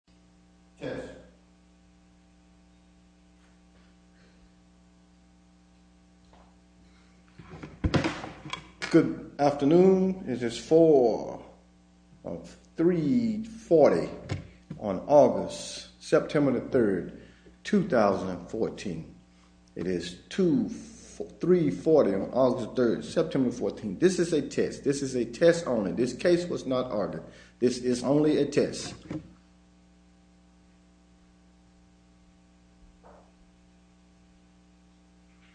Good afternoon it is 4 of 340 on August September the 3rd 2014 it is 2 340 on August 3rd September 14 this is a test this is a test only this case was not audited this is only a test